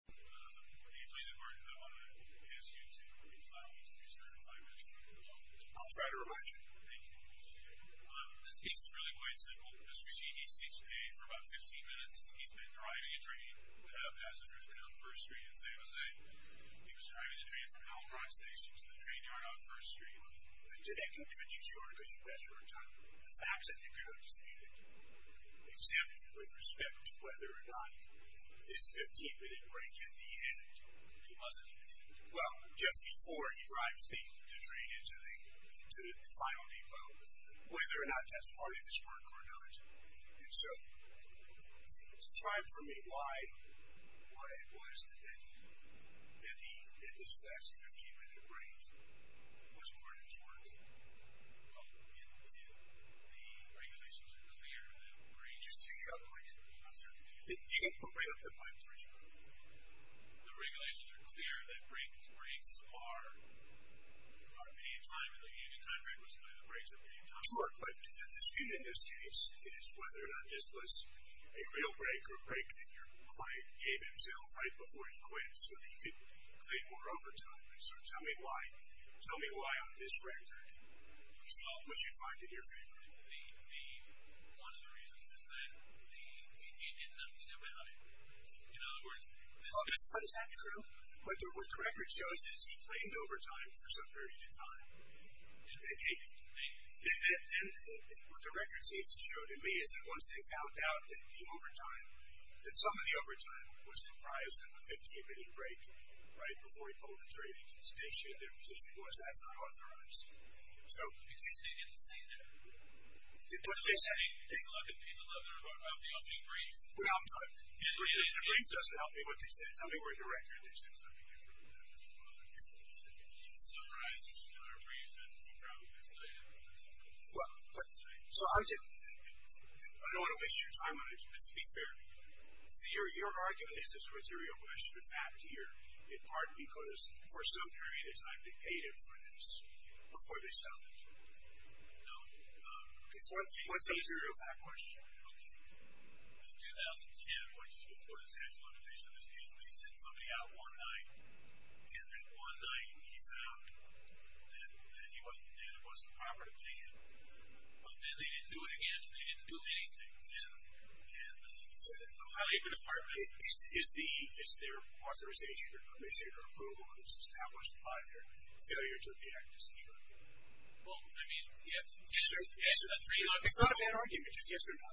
Good morning. Please, important, I want to ask you to reply to Mr. Sheehy in five minutes if you would. I'll try to remind you. Thank you. This case is really quite simple. Mr. Sheehy seeks pay for about 15 minutes. He's been driving a train without passengers down First Street in San Jose. He was driving the train from Albright Station to the train yard on First Street. Today I'm going to mention short because you've asked for a time. The facts that you've heard this evening exempt with respect to whether or not this 15-minute break at the end, he wasn't, well, just before he drives the train into the final depot, whether or not that's part of his work or not. And so it's time for me why it was that he, in this last 15-minute break, was part of his work. Well, the regulations are clear that breaks are paid time in the end of contract, which means the breaks are paid time. Sure, but the dispute in this case is whether or not this was a real break or a break that your client gave himself right before he quit so that he could claim more overtime. So tell me why on this record he's not what you'd find in your favor. One of the reasons is that the D.T. did nothing about it. Well, is that true? What the record shows is he claimed overtime for some period of time. And what the record seems to show to me is that once they found out that the overtime, that some of the overtime was comprised of a 15-minute break right before he pulled the train into the station, their position was that's not authorized. Excuse me, I didn't see that. Take a look at page 11 of the opening brief. Well, the brief doesn't help me what they said. Tell me where in the record they said something different about this. It summarizes another brief that's probably cited. So I don't want to waste your time on it, just to be fair. So your argument is this was a real question of fact here, in part because for some period of time they paid him for this before they settled it. No. Okay, so what's a real fact question? In 2010, which is before the statute of limitations of this case, they sent somebody out one night, and that one night he found that what he did wasn't proper to pay him. But then they didn't do it again, and they didn't do anything. So how do you depart from that? Is their authorization or permission or approval of this established by their failures of the act as a jury? Well, I mean, yes. It's not a bad argument, just yes or no.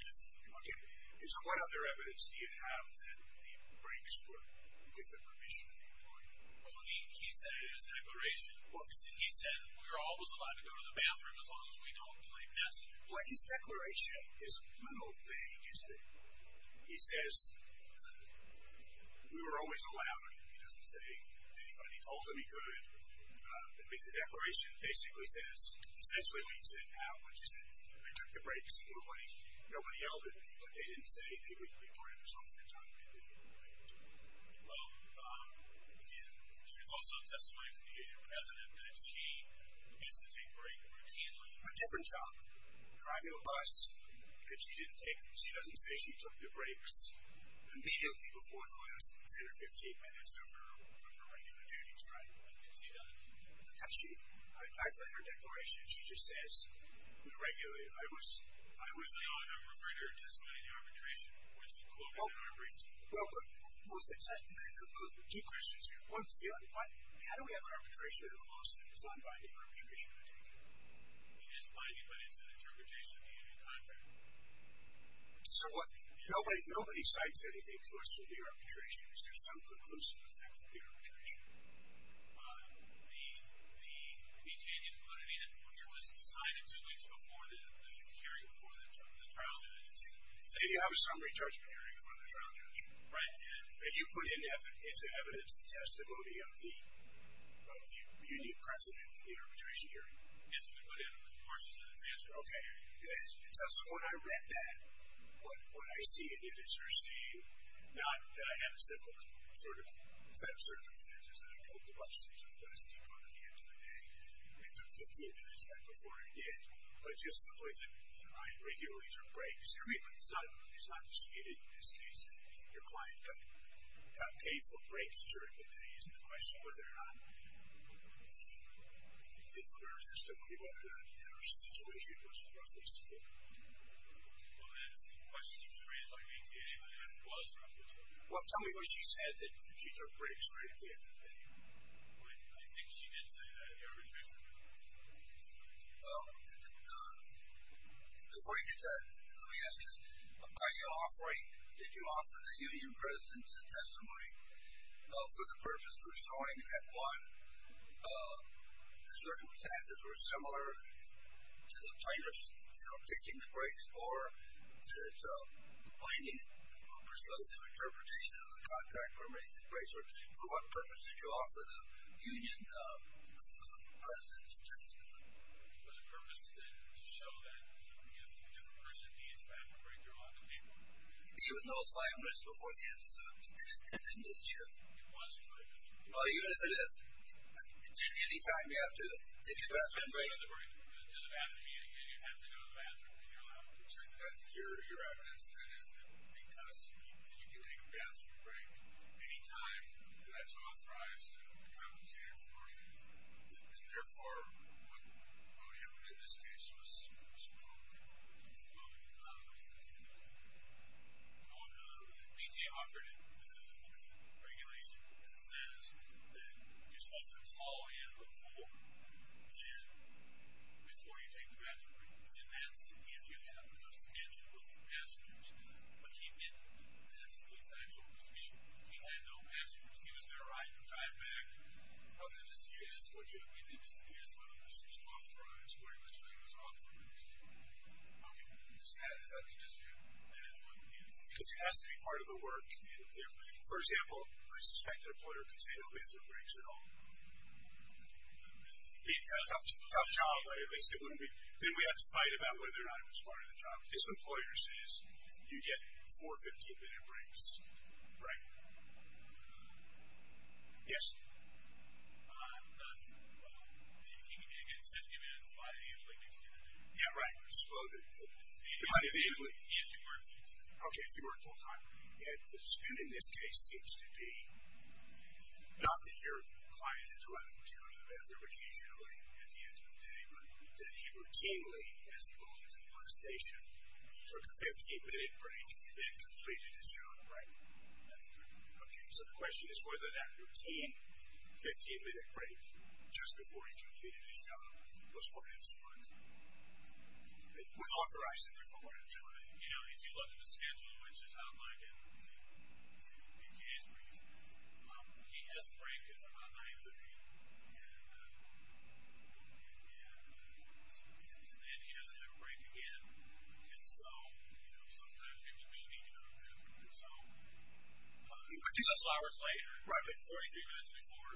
Yes. Okay. So what other evidence do you have that the breaks were with the permission of the attorney? Well, he said in his declaration. What? He said we were always allowed to go to the bathroom as long as we don't delay passengers. Well, his declaration is a little vague, isn't it? He says we were always allowed. He doesn't say anybody told him he could. The declaration basically says, essentially being said now, she said we took the breaks and nobody yelled at me, but they didn't say they would deport him as long as they could. Well, there is also testimony from the president that she gets to take breaks routinely. A different job. Driving a bus that she didn't take. She doesn't say she took the breaks immediately before the last 10 or 15 minutes of her regular duties, right? She doesn't. Regularly. I was referred her to sign the arbitration, which was called an arbitration. Well, but was the 10 minutes of movement. Two questions here. One, how do we have arbitration in a lawsuit? It's not binding arbitration, I take it? It is binding, but it's an interpretation of the contract. So what? Nobody cites anything to us for the arbitration. Is there some preclusive effect of the arbitration? The opinion put in here was decided two weeks before the hearing for the trial judge. So you have a summary judgment hearing for the trial judge? Right. And you put into evidence the testimony of the president in the arbitration hearing? Yes, we put in portions of the transcript. Okay. So when I read that, what I see in it is you're saying not that I have a simple sort of set of circumstances that I took the bus to the bus depot at the end of the day and took 15 minutes right before I did, but just the way that I regularly took breaks. I mean, it's not disputed in this case that your client got paid for breaks during the day. I'm just asking the question whether or not, if there's testimony, whether or not your situation was roughly split. Well, that's the question you phrased by me today, but it was roughly split. Well, tell me what you said that you took breaks right at the end of the day. I think she did say that at the arbitration hearing. Well, before you get to that, let me ask you this. What kind of offering did you offer the union president's testimony for the purpose of showing that, one, the circumstances were similar to the plaintiff's taking the breaks or that the plaintiff persuasive interpretation of the contract permitting the breaks, or for what purpose did you offer the union president's testimony? For the purpose to show that if a person needs a bathroom break, they're allowed to take one. Even those five minutes before the end of the hearing? It was five minutes. Oh, even if it is? Any time you have to take a bathroom break? You have to go to the bathroom meeting, and you have to go to the bathroom, and you're allowed to take a bathroom break. Your evidence then is that because you can take a bathroom break any time that's authorized and therefore what wrote him in this case was wrong. He's wrong in a lot of ways. One, we offered him a regulation that says that you're supposed to call in before you take the bathroom break, and that's if you have a schedule with the passengers, but he didn't. He had no passports. He was never on your drive-back. Other than this, he is what you would think he is, whether this is authorized, whether this thing was authorized. Okay. Does that make sense to you? Because he has to be part of the work. For example, I suspect an employer can say no bathroom breaks at all. Tough job, but at least it wouldn't be. Then we have to fight about whether or not he was part of the job. This employer says you get four 15-minute breaks. Right. Yes. If he can get his 15 minutes by a vehicle, he can get it. Yeah, right. Supposedly. By a vehicle. If he worked full-time. Okay, if he worked full-time. And in this case, it seems to be not that your client is running to the bathroom occasionally at the end of the day, but that he routinely has to go into the bus station, took a 15-minute break, and then completed his job. Right? That's correct. Okay. So the question is whether that routine 15-minute break just before he completed his job was part of his work. It was authorized if it weren't, right? You know, if you look at the schedule, which is outlined in the case brief, he has a break on the 9th of June, and then he has another break again. And so, you know, sometimes people do need to go to the bathroom on their own. A couple hours later. Right. And 43 minutes before,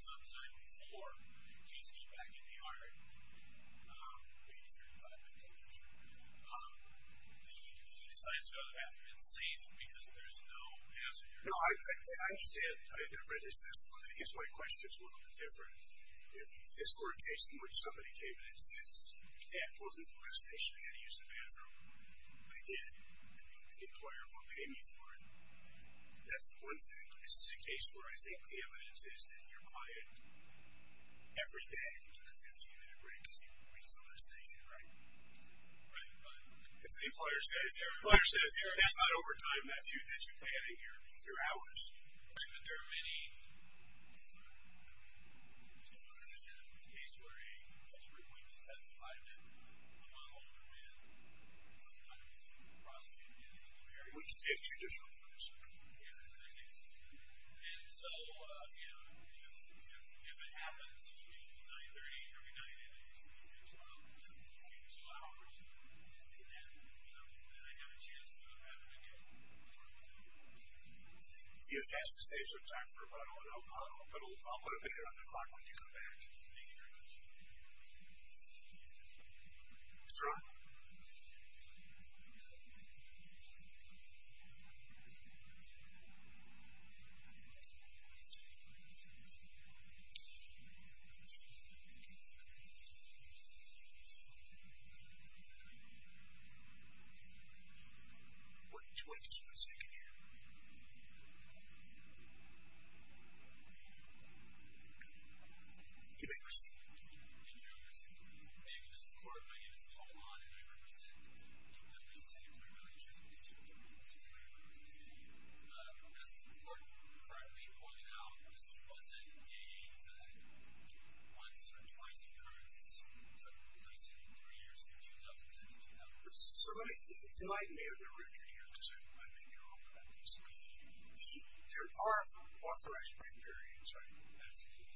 sometime before he's due back in the yard, maybe three or five minutes in the future, he decides to go to the bathroom. It's safe because there's no passengers. No, I understand. I understand. I guess my question is a little bit different. If this were a case in which somebody came in and says, yeah, I pulled into the bus station, I had to use the bathroom, I did, and the employer won't pay me for it, that's one thing. But this is a case where I think the evidence is that your client, every day, you took a 15-minute break to see if the employee is still in the station, right? Right. Right. And so the employer says, that's not overtime, that's you planning your hours. But there are many, you know, I don't know if this is going to be the case, where a regulatory witness testified that a non-older man sometimes prosecuted him. We can take two different ones. Yeah, that's a good case. And so, you know, if it happens between 9-30, every night, and it's 12 hours, and I have a chance to have it again, I'll do it. Yeah, that saves you time for a run-on. I'll put a bit here on the clock when you come back. Thank you very much. Mr. Ryan. Thank you. Why don't you wait just one second here. You may proceed. Thank you, Your Honor. May it please the Court, my name is Paul Maughan, and I represent the Winston-Hewlett Relationship Division of the Winston-Hewlett Group. As the Court currently pointed out, this wasn't a once-or-twice occurrence. This took place in three years, from 2010 to 2011. So let me enlighten you on the record here, because I may be wrong about this. There are authorization break periods, right? Absolutely.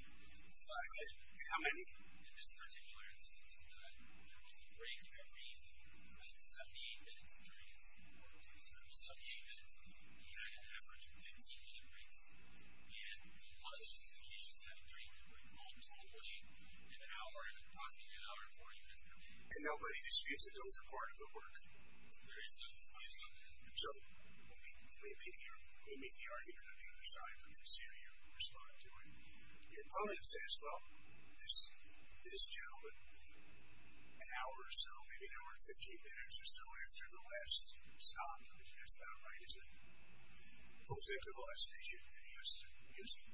Five. How many? In this particular instance, there was a break every, I think, 78 minutes, 78 minutes on an average of 15 minute breaks. And one of those occasions had a 30-minute break, and that was only an hour, possibly an hour and 40 minutes. And nobody disputes that those are part of the work? There is no dispute about that. So let me make the argument on the other side. Let me see how you respond to it. Your opponent says, well, this gentleman, an hour or so, maybe an hour and 15 minutes or so after the last stop, which is about right as it pulls into the last station, and he has to use it.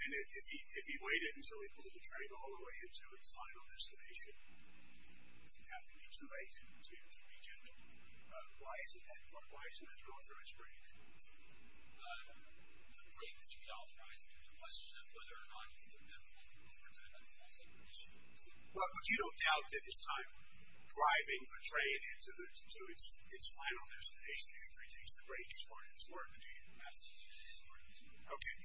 And if he waited until he pulled the train all the way to his final destination, doesn't have to be too late to reach him. Why is it an authorized break? The break can be authorized if it's a question of whether or not he's convinced But you don't doubt that his time driving the train to its final destination, if he takes the break, is part of his work, do you? Absolutely, it is part of his work. Okay.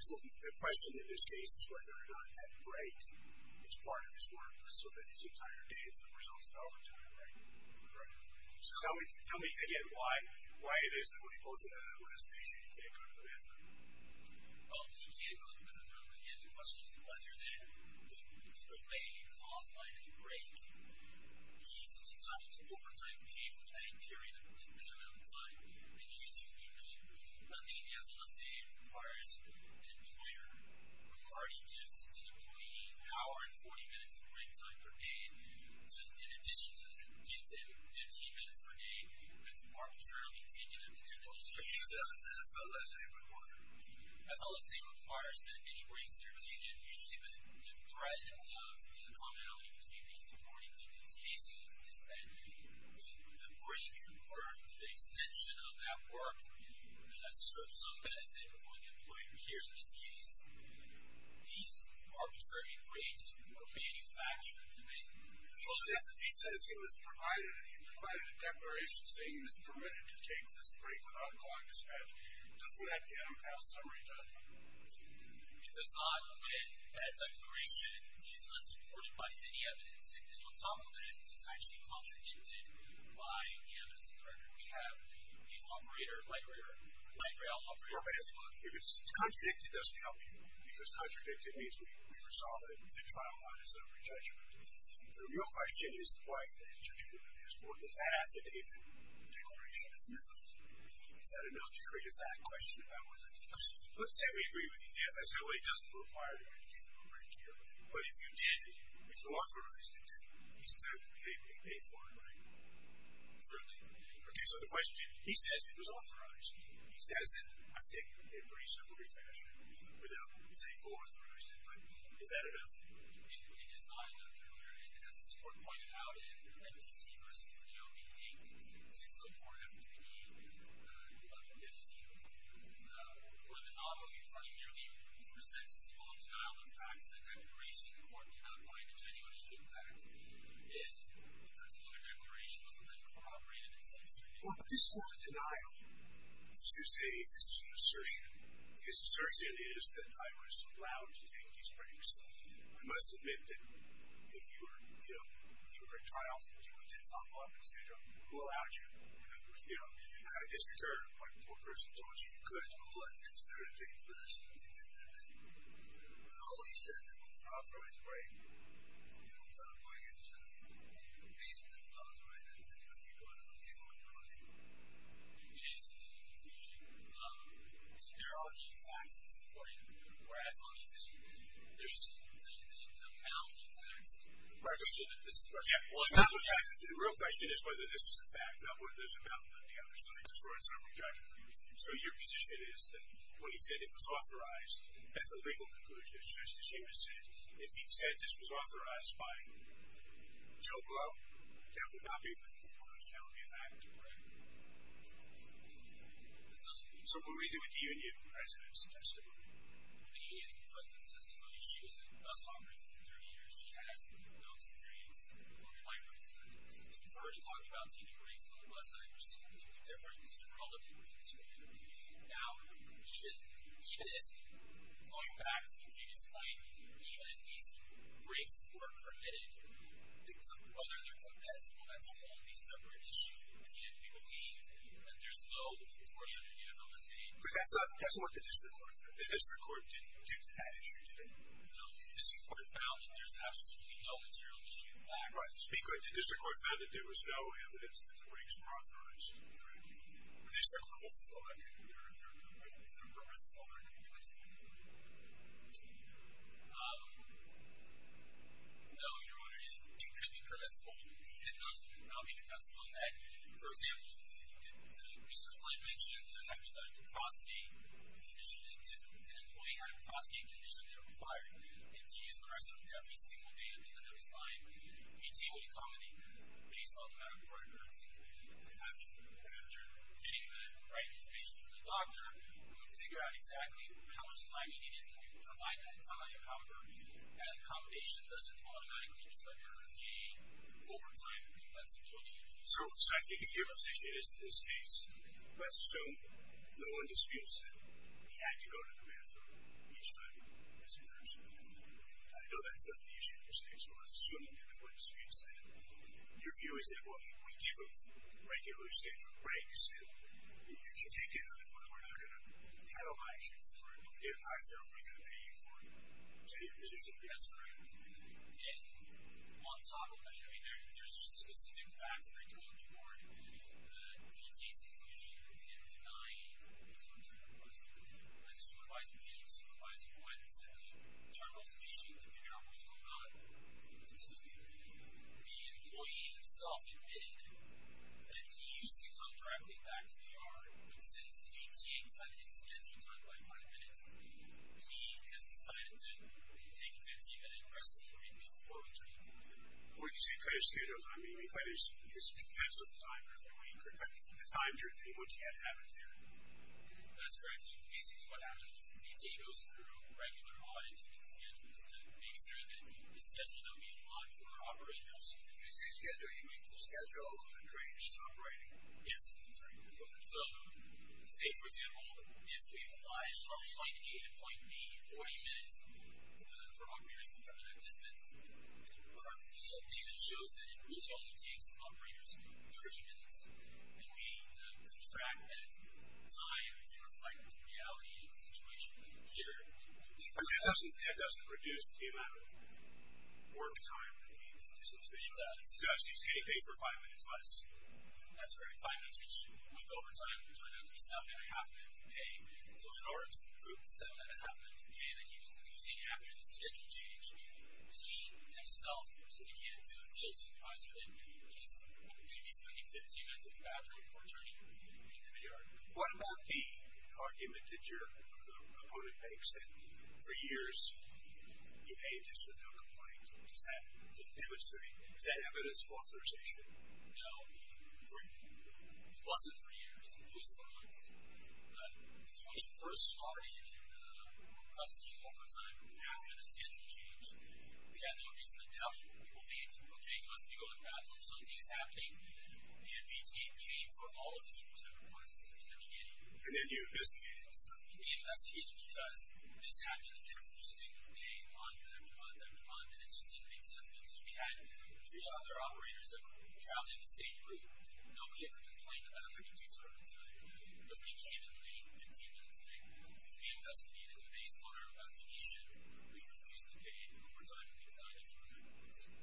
So the question in this case is whether or not that break is part of his work, so that his entire day that results in overtime, right? Correct. So tell me, again, why it is that when he pulls into the last station, he can't come to the last stop? Well, he can't come to the last stop. Again, the question is whether the delay caused by the break he's having to overtime pay for that period of time, and he needs to be paid. I think he has a lessee who requires an employer who already gives an employee an hour and 40 minutes of break time per day, in addition to that, gives him 15 minutes per day. It's arbitrarily taken in the industry. He doesn't have a lessee, but what? A lessee requires that any breaks that are taken, usually the threat of the commonality between these and 40 minutes cases is that when the break or the extension of that work serves some benefit for the employer here in this case, these arbitrary breaks are manufactured. He says he was provided a declaration saying that he was permitted to take this break without a client dispatch, but doesn't that get him passed summary judgment? It does not get that declaration. He's not supported by any evidence, and you'll talk about it, but it's actually contradicted by the evidence of the record. We have a operator, light rail operator. If it's contradicted, it doesn't help you, because contradicted means we've resolved it, and the trial line is a re-judgment. The real question is why did you do this? What does that have to do with the declaration itself? Is that enough to create a fact question about whether... Let's say we agree with you. The FSOA doesn't require you to take a break here, but if you did, if you authorized it to, you still have to pay for it, right? Really? Okay, so the question, he says it was authorized. He says it, I think, in a pretty simple fashion without, let's say, co-authorized it, but is that enough? As this court pointed out, in FTC v. AOB, 604-FPD, where the novel nearly presents its full denial of facts, the declaration, the court may not find a genuine astute fact if the particular declaration wasn't then corroborated and censored. Well, but this is not a denial. This is an assertion. His assertion is that I was allowed to take these breaks because I must admit that if you were, you know, if you were a child, if you went to a child welfare center, who allowed you? You know, I guess the court, like, the poor person told you, you couldn't go unless you considered a date for this, and you didn't. But all of these things, the co-authorized break, you know, without going into the basic of the co-authorization, that's what you're going to leave on your own. It is confusing. I mean, there are many facts to support you, or as long as there's anything about the facts. Right. The real question is whether this is a fact, not whether there's a mountain under your feet or something that's wrong with your judgment. So your position is that when he said it was authorized, that's a legal conclusion. Just as he would say, if he said this was authorized by Joe Glow, that would not be a legal conclusion. That would be a fact. Right. So what do we do with the union president's testimony? The union president's testimony, she was a bus operator for 30 years. She has no experience, like I said. She's already talking about taking breaks on the bus side, which is completely different. This is a relatively new term. Now, even if, going back to the previous point, even if these breaks were permitted, whether they're compensable, that's a wholly separate issue. Again, it would mean that there's no authority under the Uniform Decision. But that's what the district court said. The district court didn't introduce that issue, did it? No. The district court found that there's absolutely no material issue with that. Right. To be clear, the district court found that there was no evidence that the breaks were authorized. Correct. But there's certainly multiple. I couldn't remember if they're permissible or if they're compensable. No, you're wondering if it could be permissible and not be compensable in that. For example, Mr. Flynn mentioned the type of out-of-prosecution condition and if an employee had an out-of-prosecution condition that required him to use the restroom every single day at the end of his line, PT would accommodate that based on the medical records. After getting the right information from the doctor, we would figure out exactly how much time he needed to provide that time and power. That accommodation doesn't automatically result in a overtime compensability. So I take it your position is that in this case, let's assume no one disputes that he had to go to the bathroom each time he used the restroom. I know that's not the issue in this case, but let's assume that no one disputes that. Your view is that, well, we give him regular standard breaks and you can take it or we're not going to penalize you for it, but if I know we're going to pay you for it, is that your position? That's correct. Okay. On top of that, I mean, there's specific facts that are going forward. PT's conclusion in the NINE was going to request a supervising team supervisor who went to the terminal station to figure out what was going on. This was the employee himself admitting that he used to come directly back to the ER, but since PT had his scheduling done by 5 minutes, he has decided to take a 15-minute rest period before returning to the ER. When you say cut his schedule time, do you mean cut his expense of the time, or the time during which he had to have it there? That's correct. So basically what happens is PT goes through regular audits and schedules to make sure that his schedule don't meet the lines of our operators. When you say schedule, you mean the schedule the train is operating? Yes. So say, for example, if we've obliged from point A to point B 40 minutes for operators to cover that distance, our field data shows that it really only takes operators 30 minutes, and we subtract that time to reflect the reality of the situation here. And that doesn't reduce the amount of work time that the game is producing? It does. So he's getting paid for 5 minutes less? That's correct. So in order to recoup the 7 1⁄2 minutes of pay that he was losing after the schedule change, he himself can't do the field supervisor thing. He's spending 15 minutes at the Badger before returning to the ER. What about the argument that your opponent makes that for years you paid just without complaint? Does that demonstrate... Is that evidence of authorization? No. It wasn't for years. It was for months. It was when he first started requesting overtime after the schedule change. We had no reason to doubt him. We believed, okay, he must be going to bathroom, something's happening, and he paid for all of his overtime requests in the beginning. And then you investigated. And that's hidden, because this happened every single day, month after month after month, and it just didn't make sense because we had three other operators that were traveling the same route. Nobody ever complained about how quickly two servants died, but they came in late, 15 minutes late. So we investigated, and based on our investigation, we refused to pay overtime when he was dying as a result.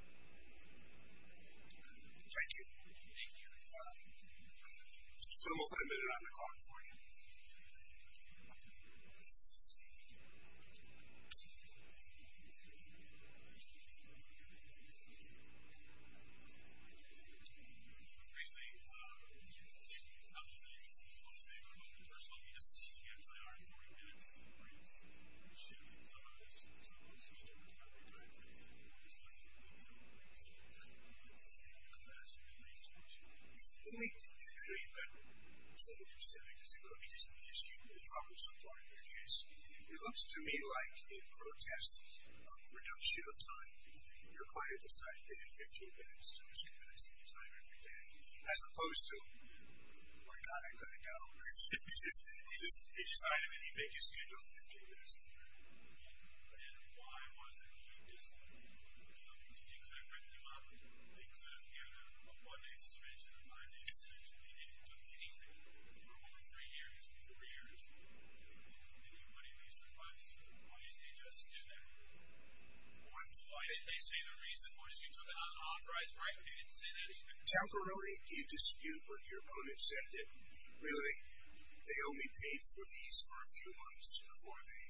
Thank you. Thank you. So we'll put a minute on the clock for you. So briefly, a couple of things. I want to say a couple of things. First of all, we just need to get as high as we are in 40 minutes, and we're going to shift some of this to a different category, but I do want to discuss some of the detail that we're going to talk about. So I'm going to say a couple of things, and then I'll come back to you when you're ready to talk to me. Let me do that. I know you've got something specific. Is it going to be just a minute, or is it going to be a drop of some kind? Because it looks to me like a protest, a reduction of time. Your client decided to add 15 minutes to his minutes anytime, every day, as opposed to, oh, my God, I've got to go. He decided that he'd make his schedule 15 minutes a week. And why was that? Well, because he could have written you up. He could have given you a one-day suspension, a five-day suspension. He didn't do anything for over three years, three years. He didn't do anything, but he takes the advice. Why didn't he just do that? They say the reason was because you took an unauthorized right, but you didn't say that either. Temporarily, you dispute what your opponent said. Really, they only paid for these for a few months before they...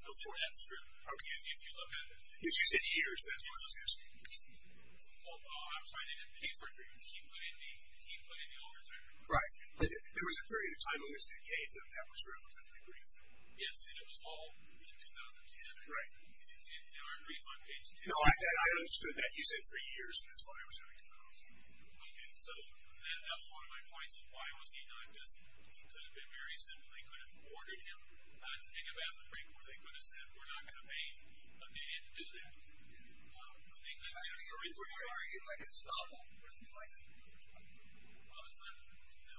Before, that's true. Okay. If you look at it. If you said years, that's what I was asking. I'm sorry, they didn't pay for it. He put in the overtime. Right. There was a period of time when they said they paid them. That was relatively brief. Yes, and it was all in 2010. Right. And they weren't brief on page 10. No, I understood that. You said three years, and that's what I was asking. Okay. So, that was one of my points of why was he not just... It could have been very simple. They could have ordered him. I think of it as a brief where they could have said we're not going to pay but they didn't do that. I mean, they could have... I mean, where are you getting like a stop-off where they'd be like... Well, it's not... No,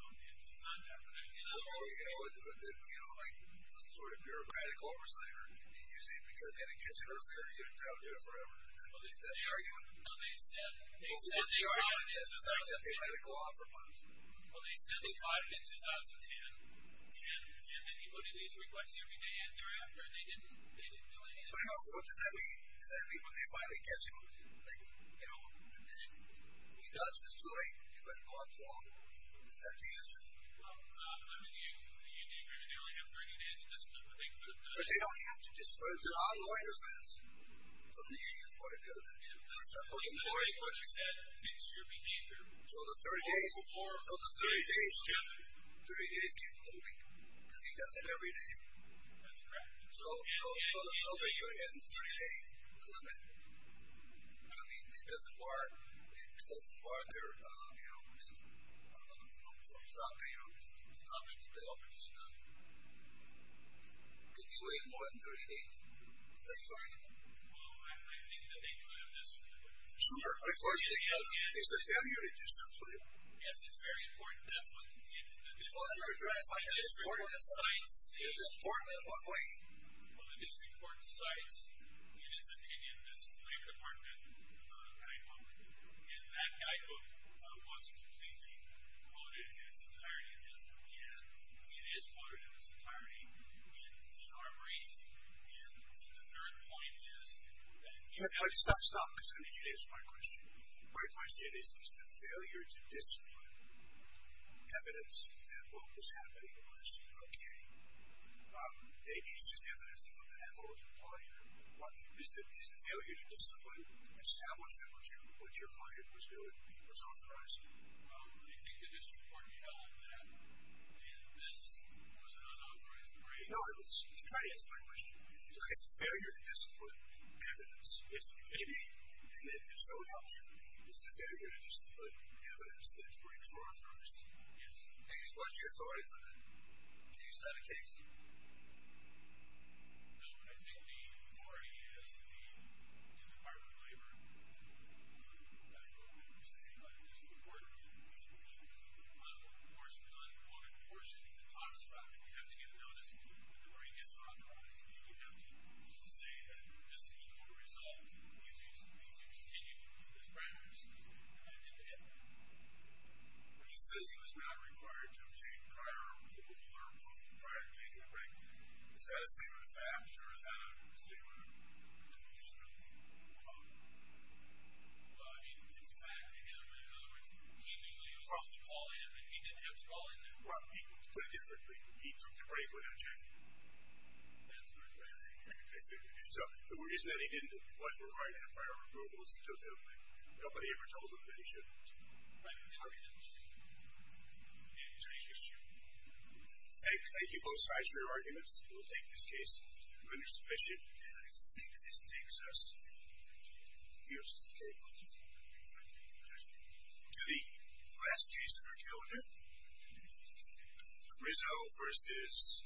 it's not that. Well, you know, like, the sort of bureaucratic oversight or... that they had to use because they had to catch a earthquake and get it down there forever. Is that your argument? No, they said... Well, what's your argument that they let it go on for months? Well, they said they caught it in 2010 and then he put in these requests every day and thereafter and they didn't do anything. But, what does that mean? Does that mean when they finally catch him they don't publish it? He does it every day and it's too late to let it go on too long. Is that the answer? Well, I mean, the union they only have 30 days to disperse it. But, they don't have to disperse it online or fence from the union's point of view. So, the 30 days keep moving because he does it every day. That's correct. So, the filter you're getting 30 days is the limit. I mean, it doesn't bar it doesn't bar their you know, from stopping you know, from stopping to publish because you only have more than 30 days. That's right. Well, I think that they could have dispersed it. Sure, but of course they can't disperse it. Yes, it's very important. That's what the district court cites. It's important in what way? Well, the district court cites in his opinion this labor department guidebook and that guidebook wasn't completely quoted in its entirety and it is quoted in its entirety in the armory guidebook and the third point is that you have to stop stop because I need you to answer my question. My question is, is the failure to discipline evidence that what was happening was okay? Maybe it's just evidence that was not authorized. Is the failure to discipline establish that what your client was doing was authorized? Well, I think the district court held that and this was an unauthorized break. No, I was trying to answer my question. Is the failure to discipline evidence that was not authorized? Yes. And what is your authority for that? Do you use that occasionally? No. I think the authority is the Department of Labor and the Department of Education. think right thing to do. I think that is the right thing to do. I think that is the right thing to do. Yes. But I think that is the I think that is the right thing to do. All right. Thank you very much. Mr. To the last in our calendar, Rizzo versus ELVs.